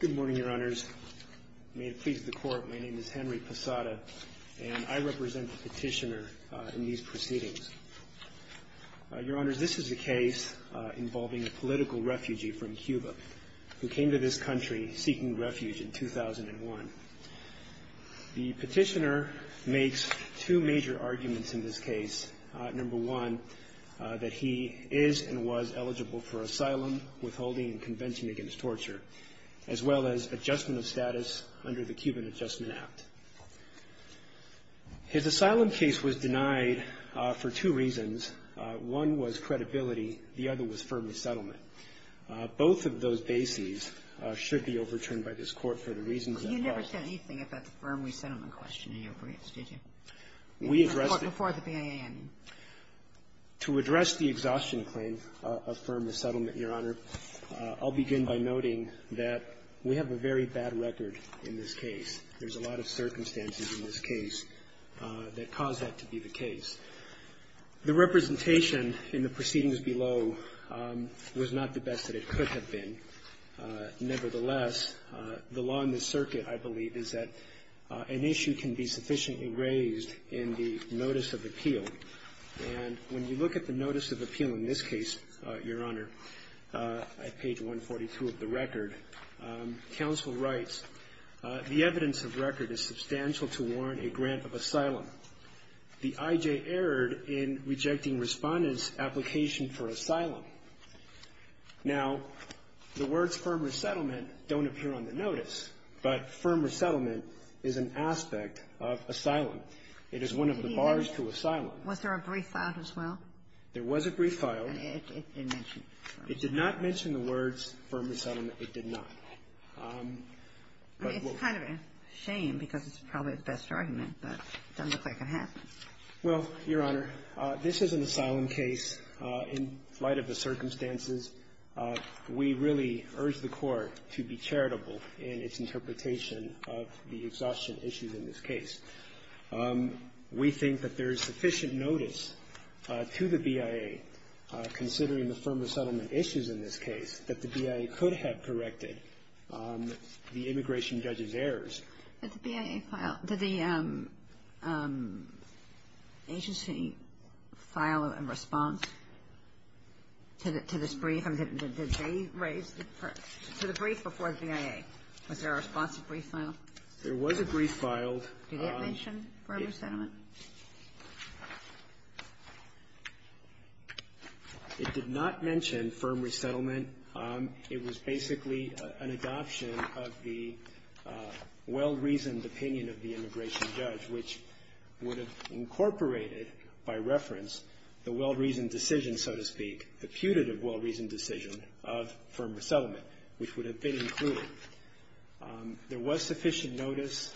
Good morning, Your Honors. May it please the Court, my name is Henry Posada, and I represent the Petitioner in these proceedings. Your Honors, this is a case involving a political refugee from Cuba who came to this country seeking refuge in 2001. The Petitioner makes two major arguments in this case. Number one, that he is and was eligible for asylum, withholding convention against torture, as well as adjustment of status under the Cuban Adjustment Act. His asylum case was denied for two reasons. One was credibility. The other was firm resettlement. Both of those bases should be overturned by this Court for the reasons that I have. You never said anything about the firm resettlement question in your briefs, did you? Before the BIA, I mean. To address the exhaustion claim of firm resettlement, Your Honor, I'll begin by noting that we have a very bad record in this case. There's a lot of circumstances in this case that caused that to be the case. The representation in the proceedings below was not the best that it could have been. Nevertheless, the law in this circuit, I believe, is that an issue can be sufficiently raised in the notice of appeal, and when you look at the notice of appeal in this case, Your Honor, at page 142 of the record, counsel writes, the evidence of record is substantial to warrant a grant of asylum. The I.J. erred in rejecting Respondent's application for asylum. Now, the words firm resettlement don't appear on the notice, but firm resettlement is an aspect of asylum. It is one of the bars to asylum. Was there a brief filed as well? There was a brief filed. And it didn't mention firm resettlement. It did not mention the words firm resettlement. It did not. I mean, it's kind of a shame because it's probably the best argument, but it doesn't look like it happened. Well, Your Honor, this is an asylum case. In light of the circumstances, we really urge the Court to be charitable in its interpretation of the exhaustion issues in this case. We think that there is sufficient notice to the BIA, considering the firm resettlement issues in this case, that the BIA could have corrected the immigration judge's errors. Did the BIA file – did the agency file a response to this brief? I mean, did they raise the – to the brief before the BIA? Was there a response to a brief filed? There was a brief filed. Did it mention firm resettlement? It did not mention firm resettlement. It was basically an adoption of the well-reasoned opinion of the immigration judge, which would have incorporated, by reference, the well-reasoned decision, so to speak, the putative well-reasoned decision of firm resettlement, which would have been included. There was sufficient notice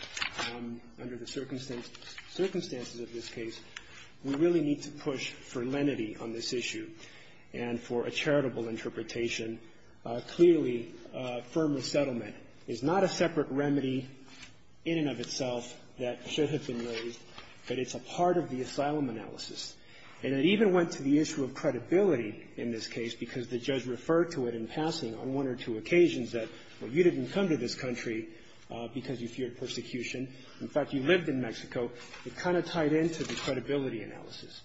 under the circumstances of this case. We really need to push for lenity on this issue and for a charitable interpretation. Clearly, firm resettlement is not a separate remedy in and of itself that should have been raised, but it's a part of the asylum analysis. And it even went to the issue of credibility in this case, because the judge referred to it in passing on one or two occasions that, well, you didn't come to this country because you feared persecution. In fact, you lived in Mexico. It kind of tied in to the credibility analysis.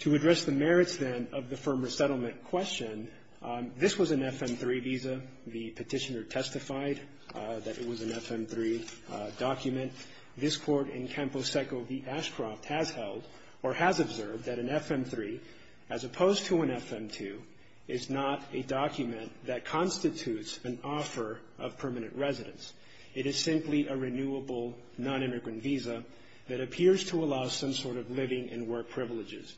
To address the merits, then, of the firm resettlement question, this was an FM-3 visa. The petitioner testified that it was an FM-3 document. This Court in Campo Seco v. Ashcroft has held or has observed that an FM-3, as opposed to an FM-2, is not a document that constitutes an offer of permanent residence. It is simply a renewable, non-immigrant visa that appears to allow some sort of living and work privileges.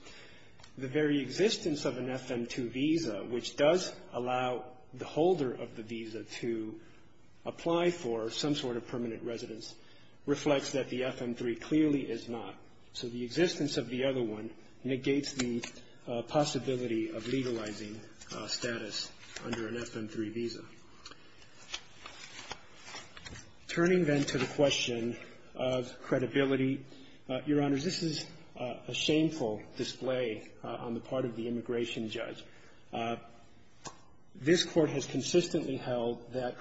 The very existence of an FM-2 visa, which does allow the holder of the visa to apply for some sort of permanent residence, reflects that the FM-3 clearly is not. So the existence of the other one negates the possibility of legalizing status under an FM-3 visa. Turning, then, to the question of credibility, Your Honors, this is a shameful display on the part of the immigration judge. This Court has consistently held that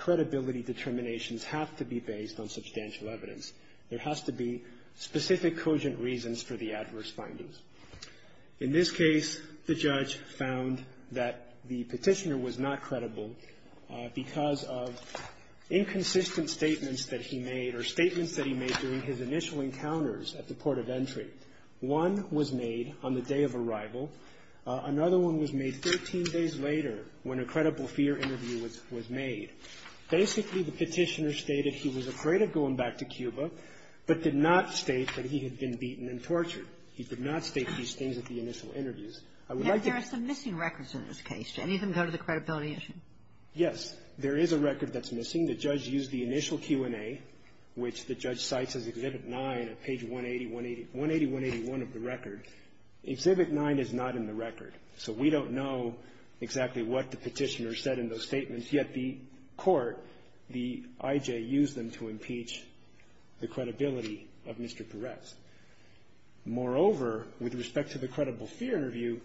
there has to be specific, cogent reasons for the adverse findings. In this case, the judge found that the petitioner was not credible because of inconsistent statements that he made or statements that he made during his initial encounters at the port of entry. One was made on the day of arrival. Another one was made 13 days later, when a credible fear interview was made. Basically, the petitioner stated he was afraid of going back to Cuba, but did not state that he had been beaten and tortured. He did not state these things at the initial interviews. There are some missing records in this case. Did any of them go to the credibility issue? Yes. There is a record that's missing. The judge used the initial Q&A, which the judge cites as Exhibit 9, at page 180-181 of the record. Exhibit 9 is not in the record, so we don't know exactly what the petitioner said in those statements, yet the court, the IJ, used them to impeach the credibility of Mr. Perez. Moreover, with respect to the credible fear interview,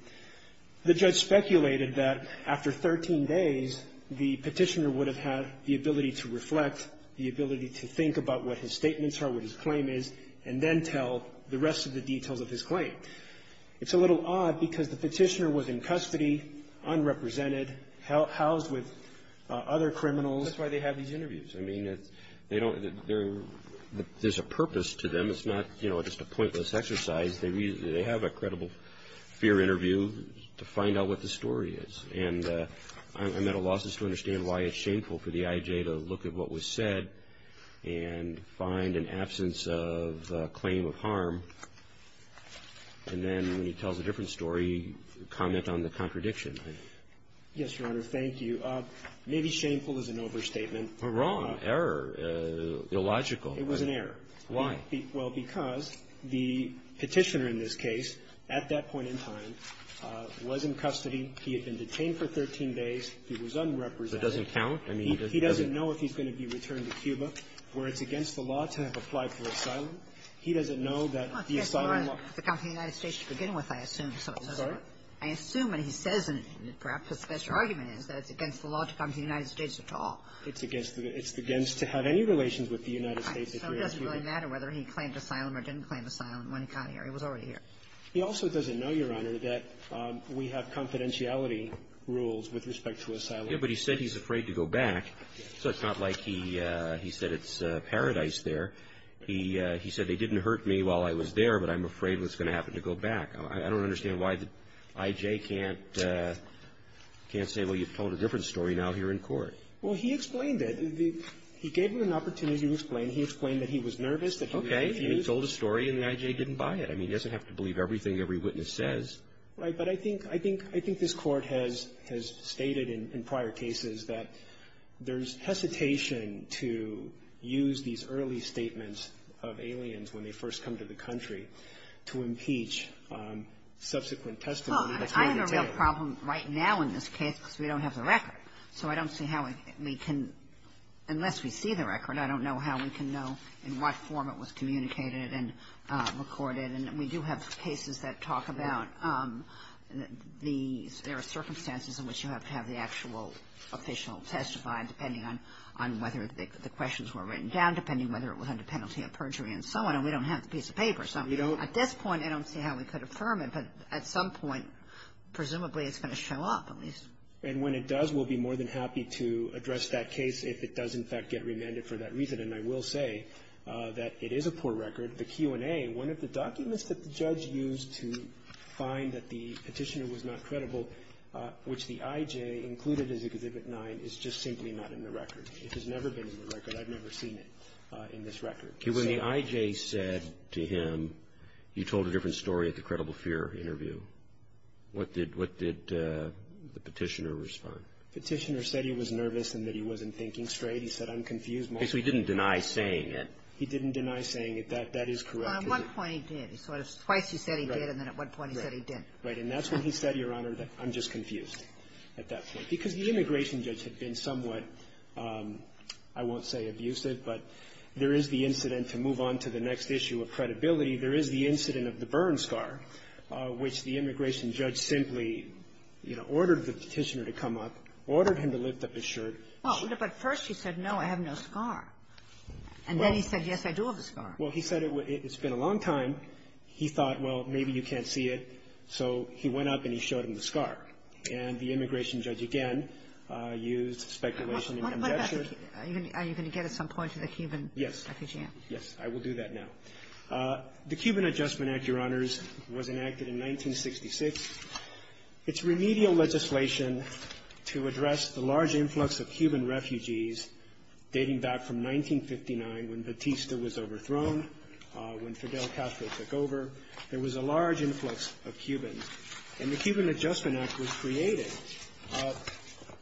the judge speculated that after 13 days, the petitioner would have had the ability to reflect, the ability to think about what his statements are, what his claim is, and then tell the rest of the details of his claim. It's a little odd, because the petitioner was in custody, unrepresented, housed with other criminals. That's why they have these interviews. There's a purpose to them. It's not just a pointless exercise. They have a credible fear interview to find out what the story is. I'm at a loss to understand why it's shameful for the IJ to look at what was said and find an absence of a claim of harm, and then when he tells a different story, comment on the contradiction. Yes, Your Honor, thank you. Maybe shameful is an overstatement. You're wrong. Error. Illogical. It was an error. Why? Well, because the petitioner in this case, at that point in time, was in custody. He had been detained for 13 days. He was unrepresented. It doesn't count? I mean, he doesn't know if he's going to be returned to Cuba, where it's against the law to have applied for asylum. He doesn't know that the asylum law ---- It's against the law to come to the United States to begin with, I assume. Sorry? I assume, and he says, and perhaps his special argument is that it's against the law to come to the United States at all. It's against the ---- it's against to have any relations with the United States if you're in Cuba. So it doesn't really matter whether he claimed asylum or didn't claim asylum when he got here. He was already here. He also doesn't know, Your Honor, that we have confidentiality rules with respect to asylum. Yeah, but he said he's afraid to go back, so it's not like he said it's paradise there. He said they didn't hurt me while I was there, but I'm afraid what's going to happen to go back. I don't understand why the I.J. can't say, well, you've told a different story now here in court. Well, he explained it. He gave him an opportunity to explain. He explained that he was nervous, that he was confused. Okay. He told a story, and the I.J. didn't buy it. I mean, he doesn't have to believe everything every witness says. Right. But I think this Court has stated in prior cases that there's hesitation to use these early statements of aliens when they first come to the country to impeach subsequent testimony that's going to take. Well, I have a real problem right now in this case because we don't have the record. So I don't see how we can, unless we see the record, I don't know how we can know in what form it was communicated and recorded, and we do have cases that talk about these. There are circumstances in which you have to have the actual official testify, depending on whether the questions were written down, depending whether it was under penalty of perjury and so on, and we don't have the piece of paper. So at this point, I don't see how we could affirm it, but at some point, presumably, it's going to show up at least. And when it does, we'll be more than happy to address that case if it does, in fact, get remanded for that reason. And I will say that it is a poor record. The Q&A, one of the documents that the judge used to find that the petitioner was not credible, which the IJ included as Exhibit 9, is just simply not in the record. It has never been in the record. I've never seen it in this record. When the IJ said to him, you told a different story at the credible fear interview, what did the petitioner respond? Petitioner said he was nervous and that he wasn't thinking straight. He said, I'm confused. So he didn't deny saying it. He didn't deny saying it. That is correct. Well, at one point he did. Twice he said he did, and then at one point he said he didn't. Right. And that's when he said, Your Honor, that I'm just confused at that point. Because the immigration judge had been somewhat, I won't say abusive, but there is the incident. To move on to the next issue of credibility, there is the incident of the burn scar, which the immigration judge simply, you know, ordered the petitioner to come up, ordered him to lift up his shirt. Well, but first he said, no, I have no scar. And then he said, yes, I do have a scar. Well, he said it's been a long time. He thought, well, maybe you can't see it. So he went up and he showed him the scar. And the immigration judge, again, used speculation and conjecture. Are you going to get at some point to the Cuban refugee? Yes. Yes, I will do that now. The Cuban Adjustment Act, Your Honors, was enacted in 1966. It's remedial legislation to address the large influx of Cuban refugees dating back from 1959 when Batista was overthrown, when Fidel Castro took over. There was a large influx of Cubans. And the Cuban Adjustment Act was created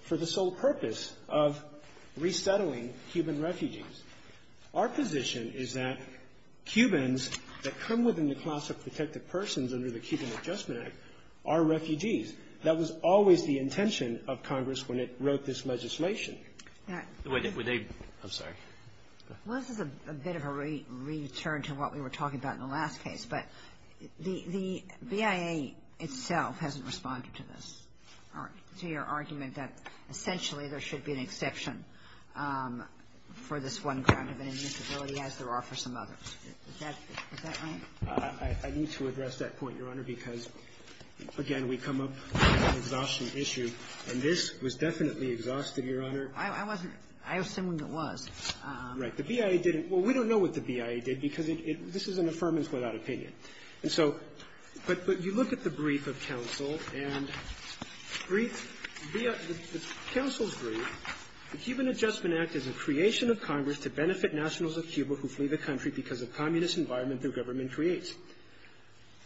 for the sole purpose of resettling Cuban refugees. Our position is that Cubans that come within the class of protected persons under the Cuban Adjustment Act are refugees. That was always the intention of Congress when it wrote this legislation. I'm sorry. Well, this is a bit of a return to what we were talking about in the last case. But the BIA itself hasn't responded to this, to your argument that essentially there should be an exception for this one kind of an admissibility as there are for some others. Is that right? I need to address that point, Your Honor, because, again, we come up with an exhaustion issue. And this was definitely exhausted, Your Honor. I wasn't. I assumed it was. Right. The BIA didn't. Well, we don't know what the BIA did because this is an affirmance without opinion. And so but you look at the brief of counsel and the counsel's brief, the Cuban Adjustment Act is a creation of Congress to benefit nationals of Cuba who flee the country because of communist environment their government creates.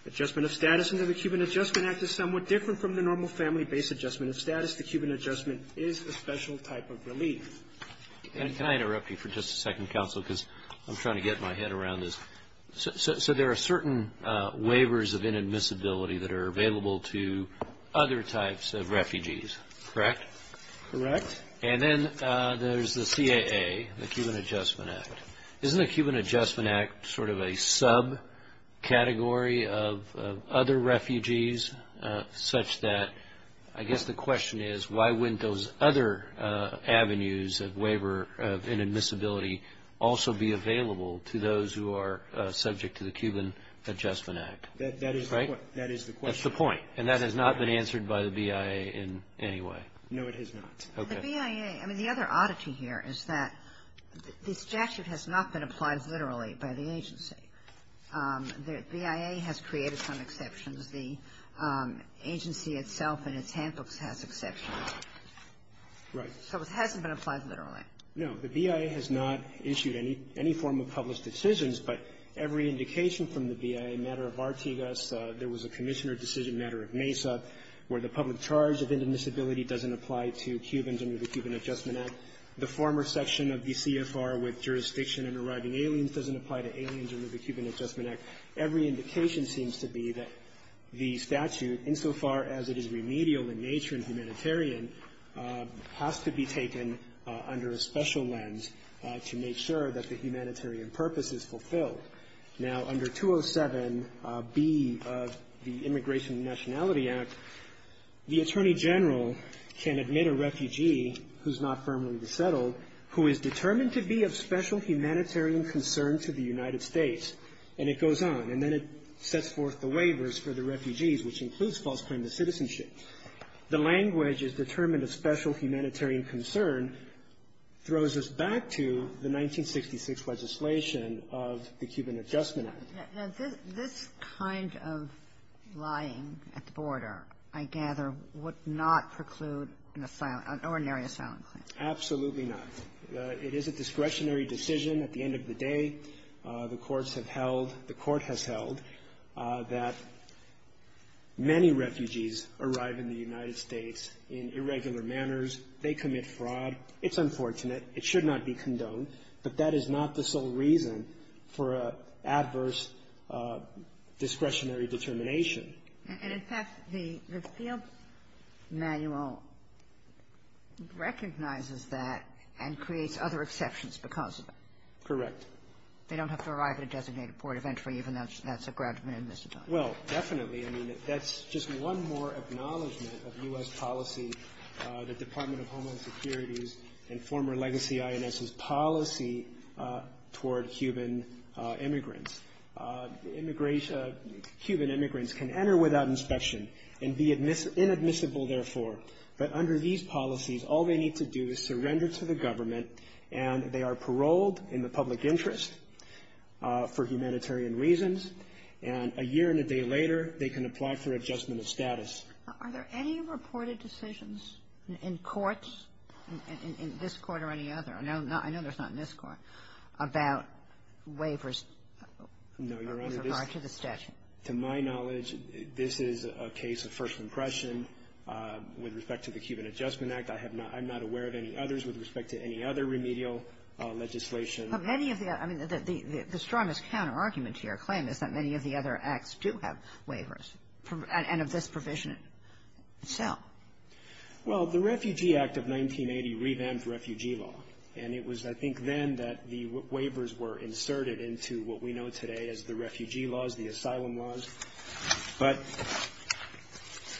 Adjustment of status under the Cuban Adjustment Act is somewhat different from the normal family-based adjustment of status. The Cuban Adjustment is a special type of relief. And can I interrupt you for just a second, counsel, because I'm trying to get my head around this. So there are certain waivers of inadmissibility that are available to other types of refugees, correct? Correct. And then there's the CAA, the Cuban Adjustment Act. Isn't the Cuban Adjustment Act sort of a subcategory of other refugees, such that I guess the question is why wouldn't those other avenues of waiver of inadmissibility also be available to those who are subject to the Cuban Adjustment Act? That is the question. That's the point. And that has not been answered by the BIA in any way? No, it has not. Okay. The BIA, I mean, the other oddity here is that this statute has not been applied literally by the agency. The BIA has created some exceptions. The agency itself and its handbooks has exceptions. Right. So it hasn't been applied literally. No, the BIA has not issued any form of published decisions, but every indication from the BIA matter of Artigas, there was a commissioner decision matter of Mesa, where the public charge of inadmissibility doesn't apply to Cubans under the Cuban Adjustment Act. The former section of the CFR with jurisdiction in arriving aliens doesn't apply to aliens under the Cuban Adjustment Act. Every indication seems to be that the statute, insofar as it is remedial in nature and humanitarian, has to be taken under a special lens to make sure that the humanitarian purpose is fulfilled. Now, under 207B of the Immigration and Nationality Act, the Attorney General can admit a refugee who's not firmly resettled, who is determined to be of special humanitarian concern to the United States, and it goes on. And then it sets forth the waivers for the refugees, which includes false claim to citizenship. The language is determined of special humanitarian concern, and then throws us back to the 1966 legislation of the Cuban Adjustment Act. Now, this kind of lying at the border, I gather, would not preclude an ordinary asylum claim. Absolutely not. It is a discretionary decision. At the end of the day, the courts have held, the court has held that many refugees arrive in the United States in irregular manners. They commit fraud. It's unfortunate. It should not be condoned. But that is not the sole reason for an adverse discretionary determination. And, in fact, the field manual recognizes that and creates other exceptions because of it. Correct. They don't have to arrive at a designated point of entry, even though that's a ground rule. Well, definitely. I mean, that's just one more acknowledgment of U.S. policy, the Department of Homeland Security's and former legacy INS's policy toward Cuban immigrants. Cuban immigrants can enter without inspection and be inadmissible, therefore. But under these policies, all they need to do is surrender to the government, and they are paroled in the public interest for humanitarian reasons. And a year and a day later, they can apply for adjustment of status. Are there any reported decisions in courts, in this Court or any other? I know there's not in this Court, about waivers with regard to the statute. No, Your Honor. To my knowledge, this is a case of first impression. With respect to the Cuban Adjustment Act, I have not – I'm not aware of any others with respect to any other remedial legislation. But many of the – I mean, the strongest counterargument to your claim is that many of the other acts do have waivers, and of this provision itself. Well, the Refugee Act of 1980 revamped refugee law. And it was, I think, then that the waivers were inserted into what we know today as the refugee laws, the asylum laws. But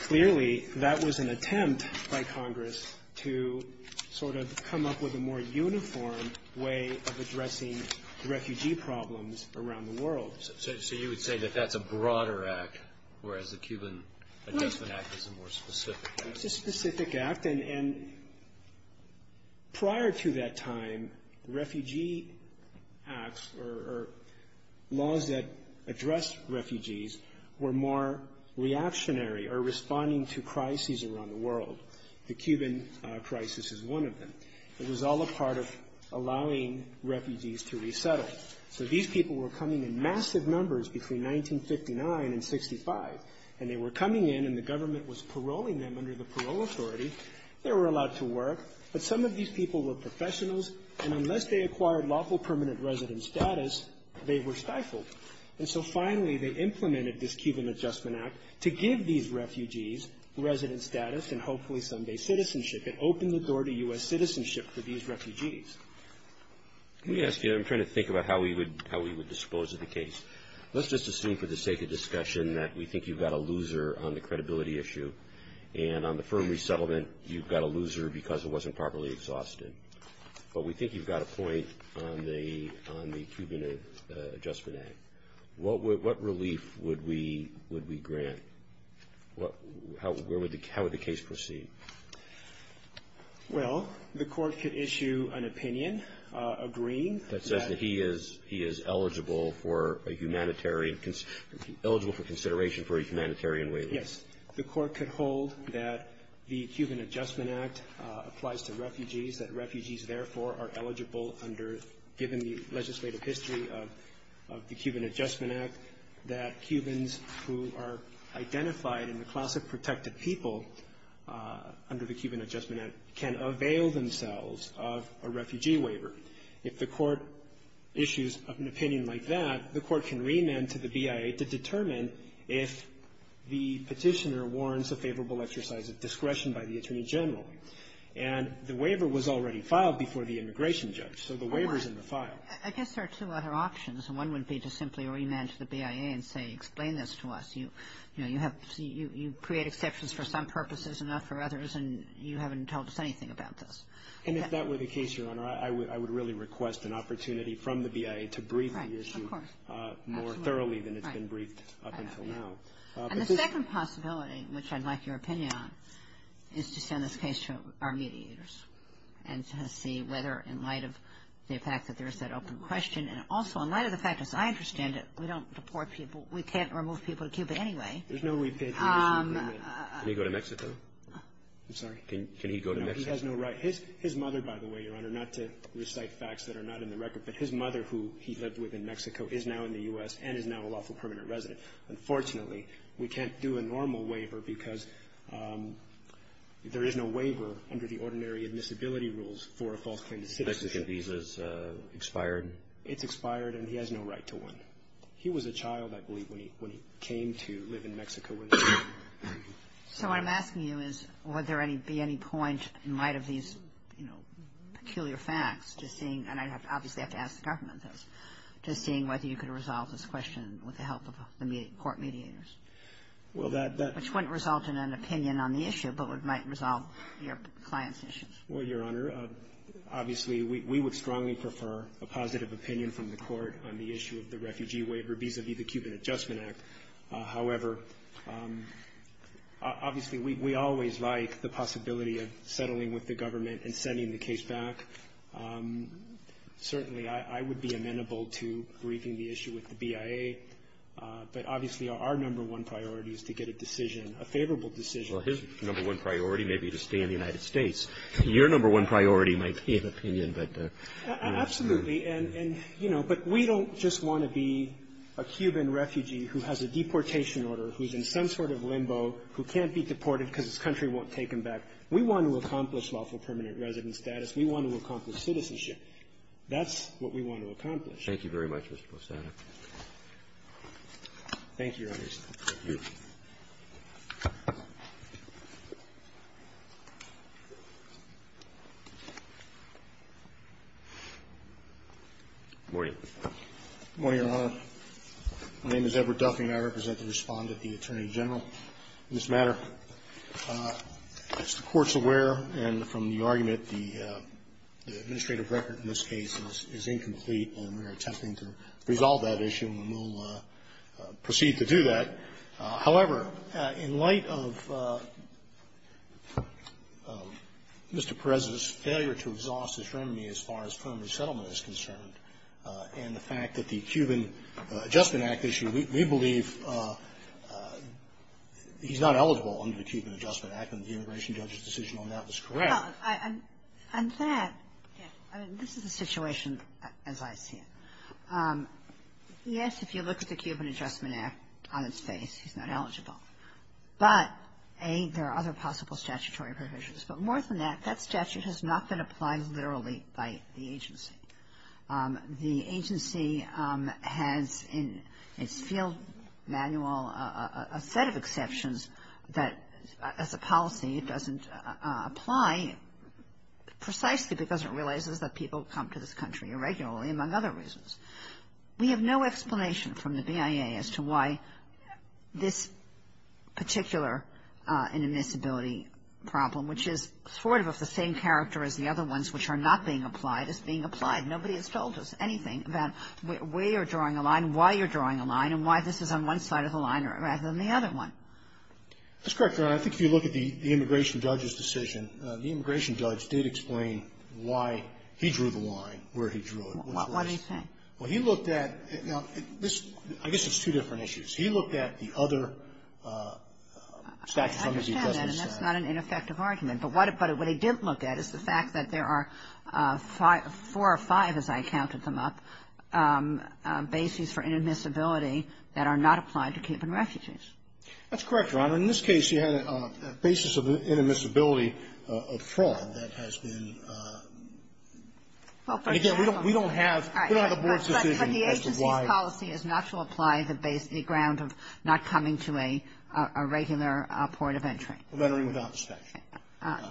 clearly, that was an attempt by Congress to sort of come up with a more uniform way of addressing refugee problems around the world. So you would say that that's a broader act, whereas the Cuban Adjustment Act is a more specific act? It's a specific act. And prior to that time, the refugee acts or laws that addressed refugees were more reactionary or responding to crises around the world. The Cuban crisis is one of them. It was all a part of allowing refugees to resettle. So these people were coming in massive numbers between 1959 and 1965. And they were coming in, and the government was paroling them under the parole authority. They were allowed to work. But some of these people were professionals, and unless they acquired lawful permanent resident status, they were stifled. And so finally, they implemented this Cuban Adjustment Act to give these refugees resident status and hopefully someday citizenship. It opened the door to U.S. citizenship for these refugees. Let me ask you, I'm trying to think about how we would dispose of the case. Let's just assume for the sake of discussion that we think you've got a loser on the credibility issue. And on the firm resettlement, you've got a loser because it wasn't properly exhausted. But we think you've got a point on the Cuban Adjustment Act. What relief would we grant? How would the case proceed? Well, the court could issue an opinion agreeing that... That says that he is eligible for consideration for a humanitarian waiver. Yes. The court could hold that the Cuban Adjustment Act applies to refugees, that refugees, therefore, are eligible under, given the legislative history of the Cuban Adjustment Act, that Cubans who are identified in the class of protected people under the Cuban Adjustment Act can avail themselves of a refugee waiver. If the court issues an opinion like that, the court can remand to the BIA to determine if the petitioner warrants a favorable exercise of discretion by the Attorney General. And the waiver was already filed before the immigration judge, so the waiver's in the file. I guess there are two other options. One would be to simply remand to the BIA and say, explain this to us. You create exceptions for some purposes and not for others, and you haven't told us anything about this. And if that were the case, Your Honor, I would really request an opportunity from the BIA to brief the issue more thoroughly than it's been briefed up until now. And the second possibility, which I'd like your opinion on, is to send this case to our mediators and to see whether, in light of the fact that there's that open question, and also in light of the fact, as I understand it, we don't deport people. We can't remove people to Cuba anyway. Can he go to Mexico? I'm sorry? Can he go to Mexico? No, he has no right. His mother, by the way, Your Honor, not to recite facts that are not in the record, but his mother who he lived with in Mexico is now in the U.S. and is now a lawful permanent resident. Unfortunately, we can't do a normal waiver because there is no waiver under the ordinary admissibility rules for a false claim to citizenship. Is the Mexican visa expired? It's expired, and he has no right to one. He was a child, I believe, when he came to live in Mexico. So what I'm asking you is, would there be any point, in light of these, you know, peculiar facts, to seeing – and I'd obviously have to ask the government this – to seeing whether you could resolve this question with the help of the court mediators? Well, that – Which wouldn't result in an opinion on the issue, but it might resolve your client's issues. Well, Your Honor, obviously, we would strongly prefer a positive opinion from the court on the issue of the refugee waiver vis-à-vis the Cuban Adjustment Act. However, obviously, we always like the possibility of settling with the government and sending the case back. Certainly, I would be amenable to briefing the issue with the BIA, but obviously, our number one priority is to get a decision, a favorable decision. Well, his number one priority may be to stay in the United States. Your number one priority might be an opinion, but, you know. Absolutely. And, you know, but we don't just want to be a Cuban refugee who has a deportation order, who's in some sort of limbo, who can't be deported because his country won't take him back. We want to accomplish lawful permanent resident status. We want to accomplish citizenship. That's what we want to accomplish. Thank you very much, Mr. Postano. Thank you, Your Honor. Thank you. Good morning. Good morning, Your Honor. My name is Edward Duffey, and I represent the Respondent, the Attorney General. In this matter, as the Court's aware, and from the argument, the administrative record in this case is incomplete, and we are attempting to resolve that issue, and we'll proceed to do that. However, in light of Mr. Perez's failure to exhaust his remedy as far as permanent settlement is concerned, and the fact that the Cuban Adjustment Act issue, we believe he's not eligible under the Cuban Adjustment Act, and the immigration judge's decision on that was correct. On that, this is the situation as I see it. Yes, if you look at the Cuban Adjustment Act on its face, he's not eligible. But, A, there are other possible statutory provisions. But more than that, that statute has not been applied literally by the agency. The agency has in its field manual a set of exceptions that as a policy it doesn't apply precisely because it realizes that people come to this country irregularly, among other reasons. We have no explanation from the BIA as to why this particular inadmissibility problem, which is sort of of the same character as the other ones which are not being applied, is being applied. Nobody has told us anything about where you're drawing a line and why you're drawing a line and why this is on one side of the line rather than the other one. That's correct, Your Honor. I think if you look at the immigration judge's decision, the immigration judge did explain why he drew the line where he drew it. What did he say? Well, he looked at this. I guess it's two different issues. He looked at the other statute. I understand that. And that's not an ineffective argument. But what he didn't look at is the fact that there are four or five, as I counted them up, bases for inadmissibility that are not applied to Cape and refugees. That's correct, Your Honor. In this case, you had a basis of inadmissibility of fraud that has been. Well, first of all. Again, we don't have the board's decision as to why. But the agency's policy is not to apply the base, any ground of not coming to a regular point of entry. Lettering without inspection. I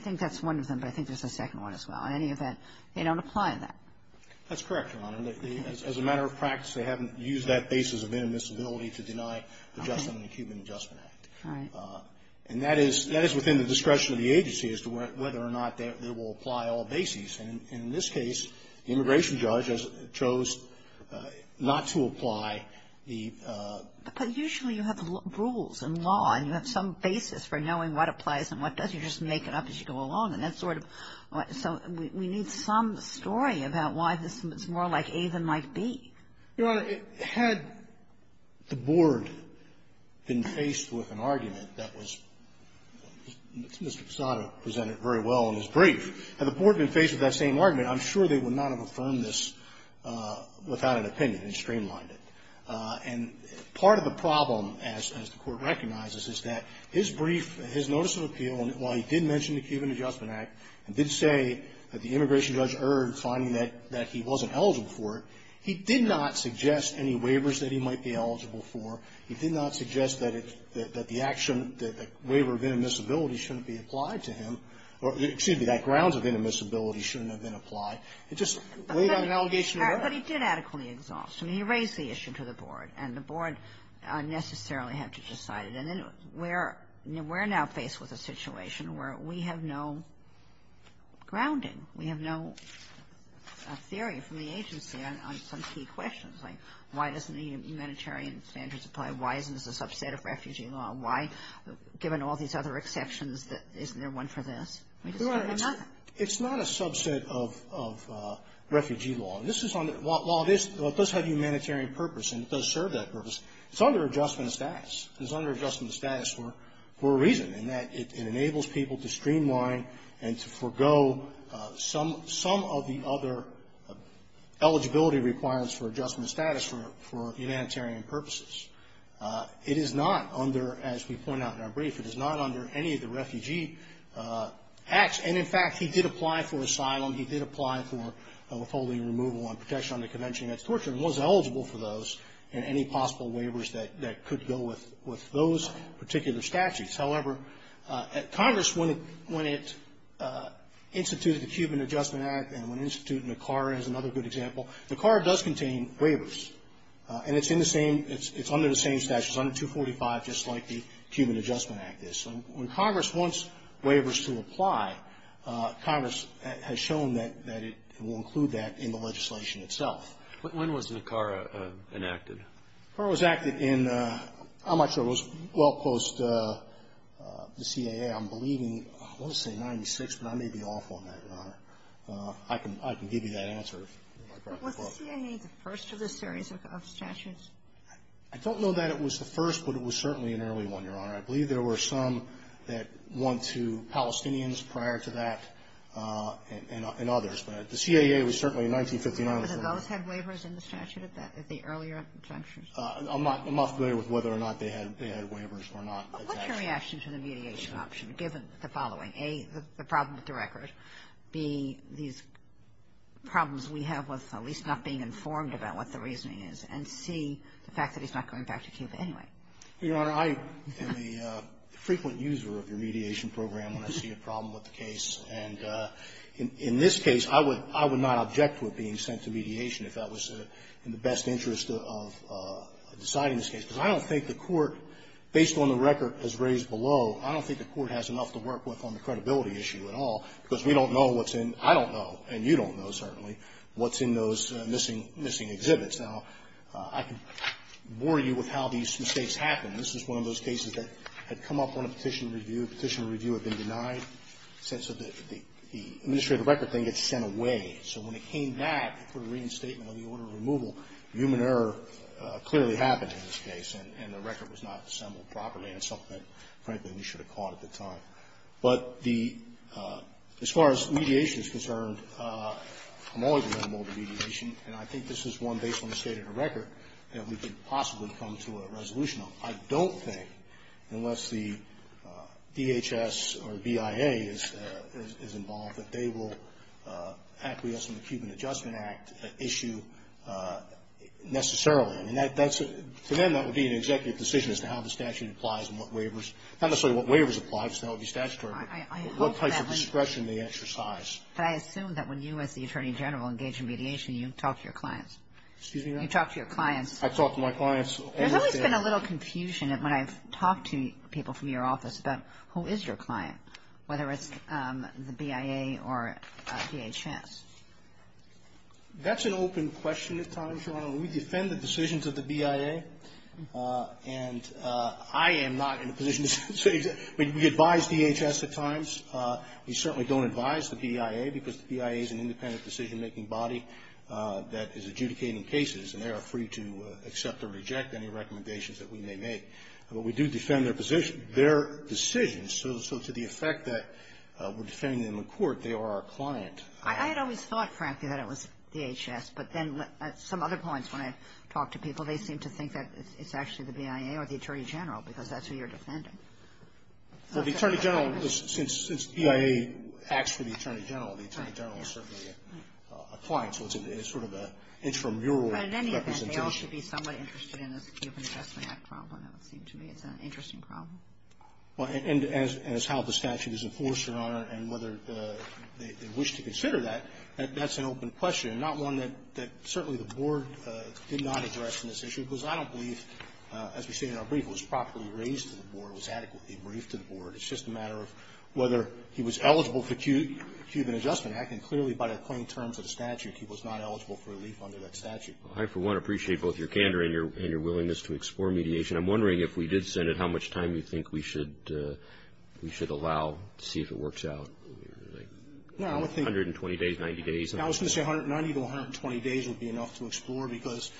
think that's one of them, but I think there's a second one as well. In any event, they don't apply that. That's correct, Your Honor. As a matter of practice, they haven't used that basis of inadmissibility to deny adjustment in the Cuban Adjustment Act. All right. And that is within the discretion of the agency as to whether or not they will apply all bases. And in this case, the immigration judge chose not to apply the ---- But usually, you have rules in law, and you have some basis for knowing what applies and what doesn't. You just make it up as you go along. And that's sort of why we need some story about why this is more like A than like B. Your Honor, had the board been faced with an argument that was, Mr. Posada presented very well in his brief, had the board been faced with that same argument, I'm sure they would not have affirmed this without an opinion and streamlined it. And part of the problem, as the Court recognizes, is that his brief, his notice of appeal, while he did mention the Cuban Adjustment Act and did say that the immigration judge erred, finding that he wasn't eligible for it, he did not suggest any waivers that he might be eligible for. He did not suggest that the action, that the waiver of intermissibility shouldn't be applied to him, or excuse me, that grounds of intermissibility shouldn't have been applied. It just laid out an allegation of error. But he did adequately exhaust. I mean, he raised the issue to the board, and the board unnecessarily had to decide it. And then we're now faced with a situation where we have no grounding. We have no theory from the agency on some key questions, like why doesn't the humanitarian standards apply? Why isn't this a subset of refugee law? Why, given all these other exceptions, isn't there one for this? We just have another. It's not a subset of refugee law. This is on the law. It does have a humanitarian purpose, and it does serve that purpose. It's under adjustment of status. It's under adjustment of status for a reason, in that it enables people to streamline and to forego some of the other eligibility requirements for adjustment of status for humanitarian purposes. It is not under, as we point out in our brief, it is not under any of the refugee acts. And, in fact, he did apply for asylum. He did apply for withholding removal and protection under Convention Against Torture and was eligible for those and any possible waivers that could go with those particular statutes. However, at Congress, when it instituted the Cuban Adjustment Act and when CARA does contain waivers, and it's in the same, it's under the same statute. It's under 245, just like the Cuban Adjustment Act is. So when Congress wants waivers to apply, Congress has shown that it will include that in the legislation itself. When was CARA enacted? CARA was enacted in, I'm not sure, it was well post the CAA. I'm believing, I want to say 96, but I may be off on that, Your Honor. I can give you that answer. But was the CAA the first of this series of statutes? I don't know that it was the first, but it was certainly an early one, Your Honor. I believe there were some that went to Palestinians prior to that and others. But the CAA was certainly in 1959. But did those have waivers in the statute, the earlier exemptions? I'm not familiar with whether or not they had waivers or not. What's your reaction to the mediation option, given the following, A, the problem with the record, B, these problems we have with at least not being informed about what the reasoning is, and C, the fact that he's not going back to Cuba anyway? Your Honor, I am a frequent user of your mediation program when I see a problem with the case. And in this case, I would not object to it being sent to mediation if that was in the best interest of deciding this case. Because I don't think the Court, based on the record as raised below, I don't think the Court has enough to work with on the credibility issue at all. Because we don't know what's in, I don't know, and you don't know, certainly, what's in those missing exhibits. Now, I can bore you with how these mistakes happen. This is one of those cases that had come up on a petition review. Petition review had been denied since the administrative record thing gets sent away. So when it came back for a reading statement on the order of removal, human error clearly happened in this case. And the record was not assembled properly. And it's something that, frankly, we should have caught at the time. But the, as far as mediation is concerned, I'm always a member of the mediation. And I think this is one, based on the state of the record, that we could possibly come to a resolution on. I don't think, unless the DHS or BIA is involved, that they will acquiesce in the Cuban Adjustment Act issue necessarily. I mean, for them, that would be an executive decision as to how the statute applies and what waivers, not necessarily what waivers apply, just how it would be statutory, but what type of discretion they exercise. But I assume that when you, as the Attorney General, engage in mediation, you talk to your clients. Excuse me, Your Honor? You talk to your clients. I talk to my clients. There's always been a little confusion when I've talked to people from your office about who is your client, whether it's the BIA or DHS. That's an open question at times, Your Honor. We defend the decisions of the BIA. And I am not in a position to say that. We advise DHS at times. We certainly don't advise the BIA because the BIA is an independent decision-making body that is adjudicating cases. And they are free to accept or reject any recommendations that we may make. But we do defend their position, their decisions. So to the effect that we're defending them in court, they are our client. I had always thought, frankly, that it was DHS. But then at some other points when I've talked to people, they seem to think that it's actually the BIA or the Attorney General, because that's who you're defending. Well, the Attorney General, since BIA acts for the Attorney General, the Attorney General is certainly a client. So it's sort of an intramural representation. But in any event, they all should be somewhat interested in this Cuban Adjustment Act problem, it would seem to me. It's an interesting problem. Well, and as how the statute is enforced, Your Honor, and whether they wish to consider that, that's an open question, not one that certainly the Board did not address in this issue, because I don't believe, as we say in our brief, it was properly raised to the Board, it was adequately briefed to the Board. It's just a matter of whether he was eligible for the Cuban Adjustment Act. And clearly by the plain terms of the statute, he was not eligible for relief under that statute. I, for one, appreciate both your candor and your willingness to explore mediation. I'm wondering if we did send it, how much time do you think we should allow to see if it works out? 120 days, 90 days? I was going to say 90 to 120 days would be enough to explore, because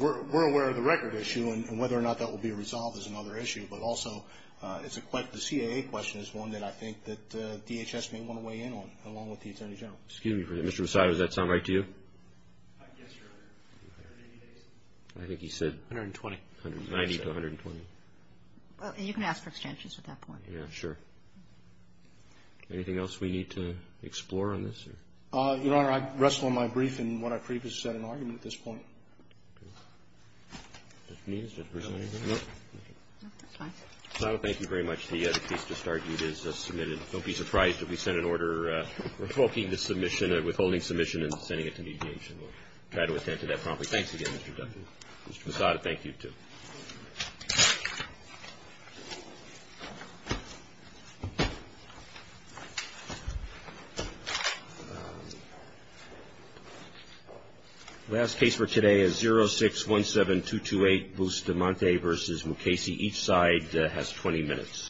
we're aware of the record issue, and whether or not that will be resolved is another issue. But also, the CAA question is one that I think that DHS may want to weigh in on, along with the Attorney General. Excuse me, Mr. Posada, does that sound right to you? Yes, Your Honor. I think he said... 120. 120. 90 to 120. You can ask for extensions at that point. Yeah, sure. Anything else we need to explore on this? Your Honor, I'd rest on my brief in what I previously said in argument at this point. Okay. Mr. Nunez, did I lose anything? No. No, that's fine. Mr. Posada, thank you very much. The case just argued is submitted. Don't be surprised if we send an order revoking the submission, withholding submission, and sending it to mediation. We'll try to attend to that promptly. Thanks again, Mr. Duffy. Thank you. Mr. Posada, thank you, too. The last case for today is 0617228 Bustamante v. Mukasey. Each side has 20 minutes.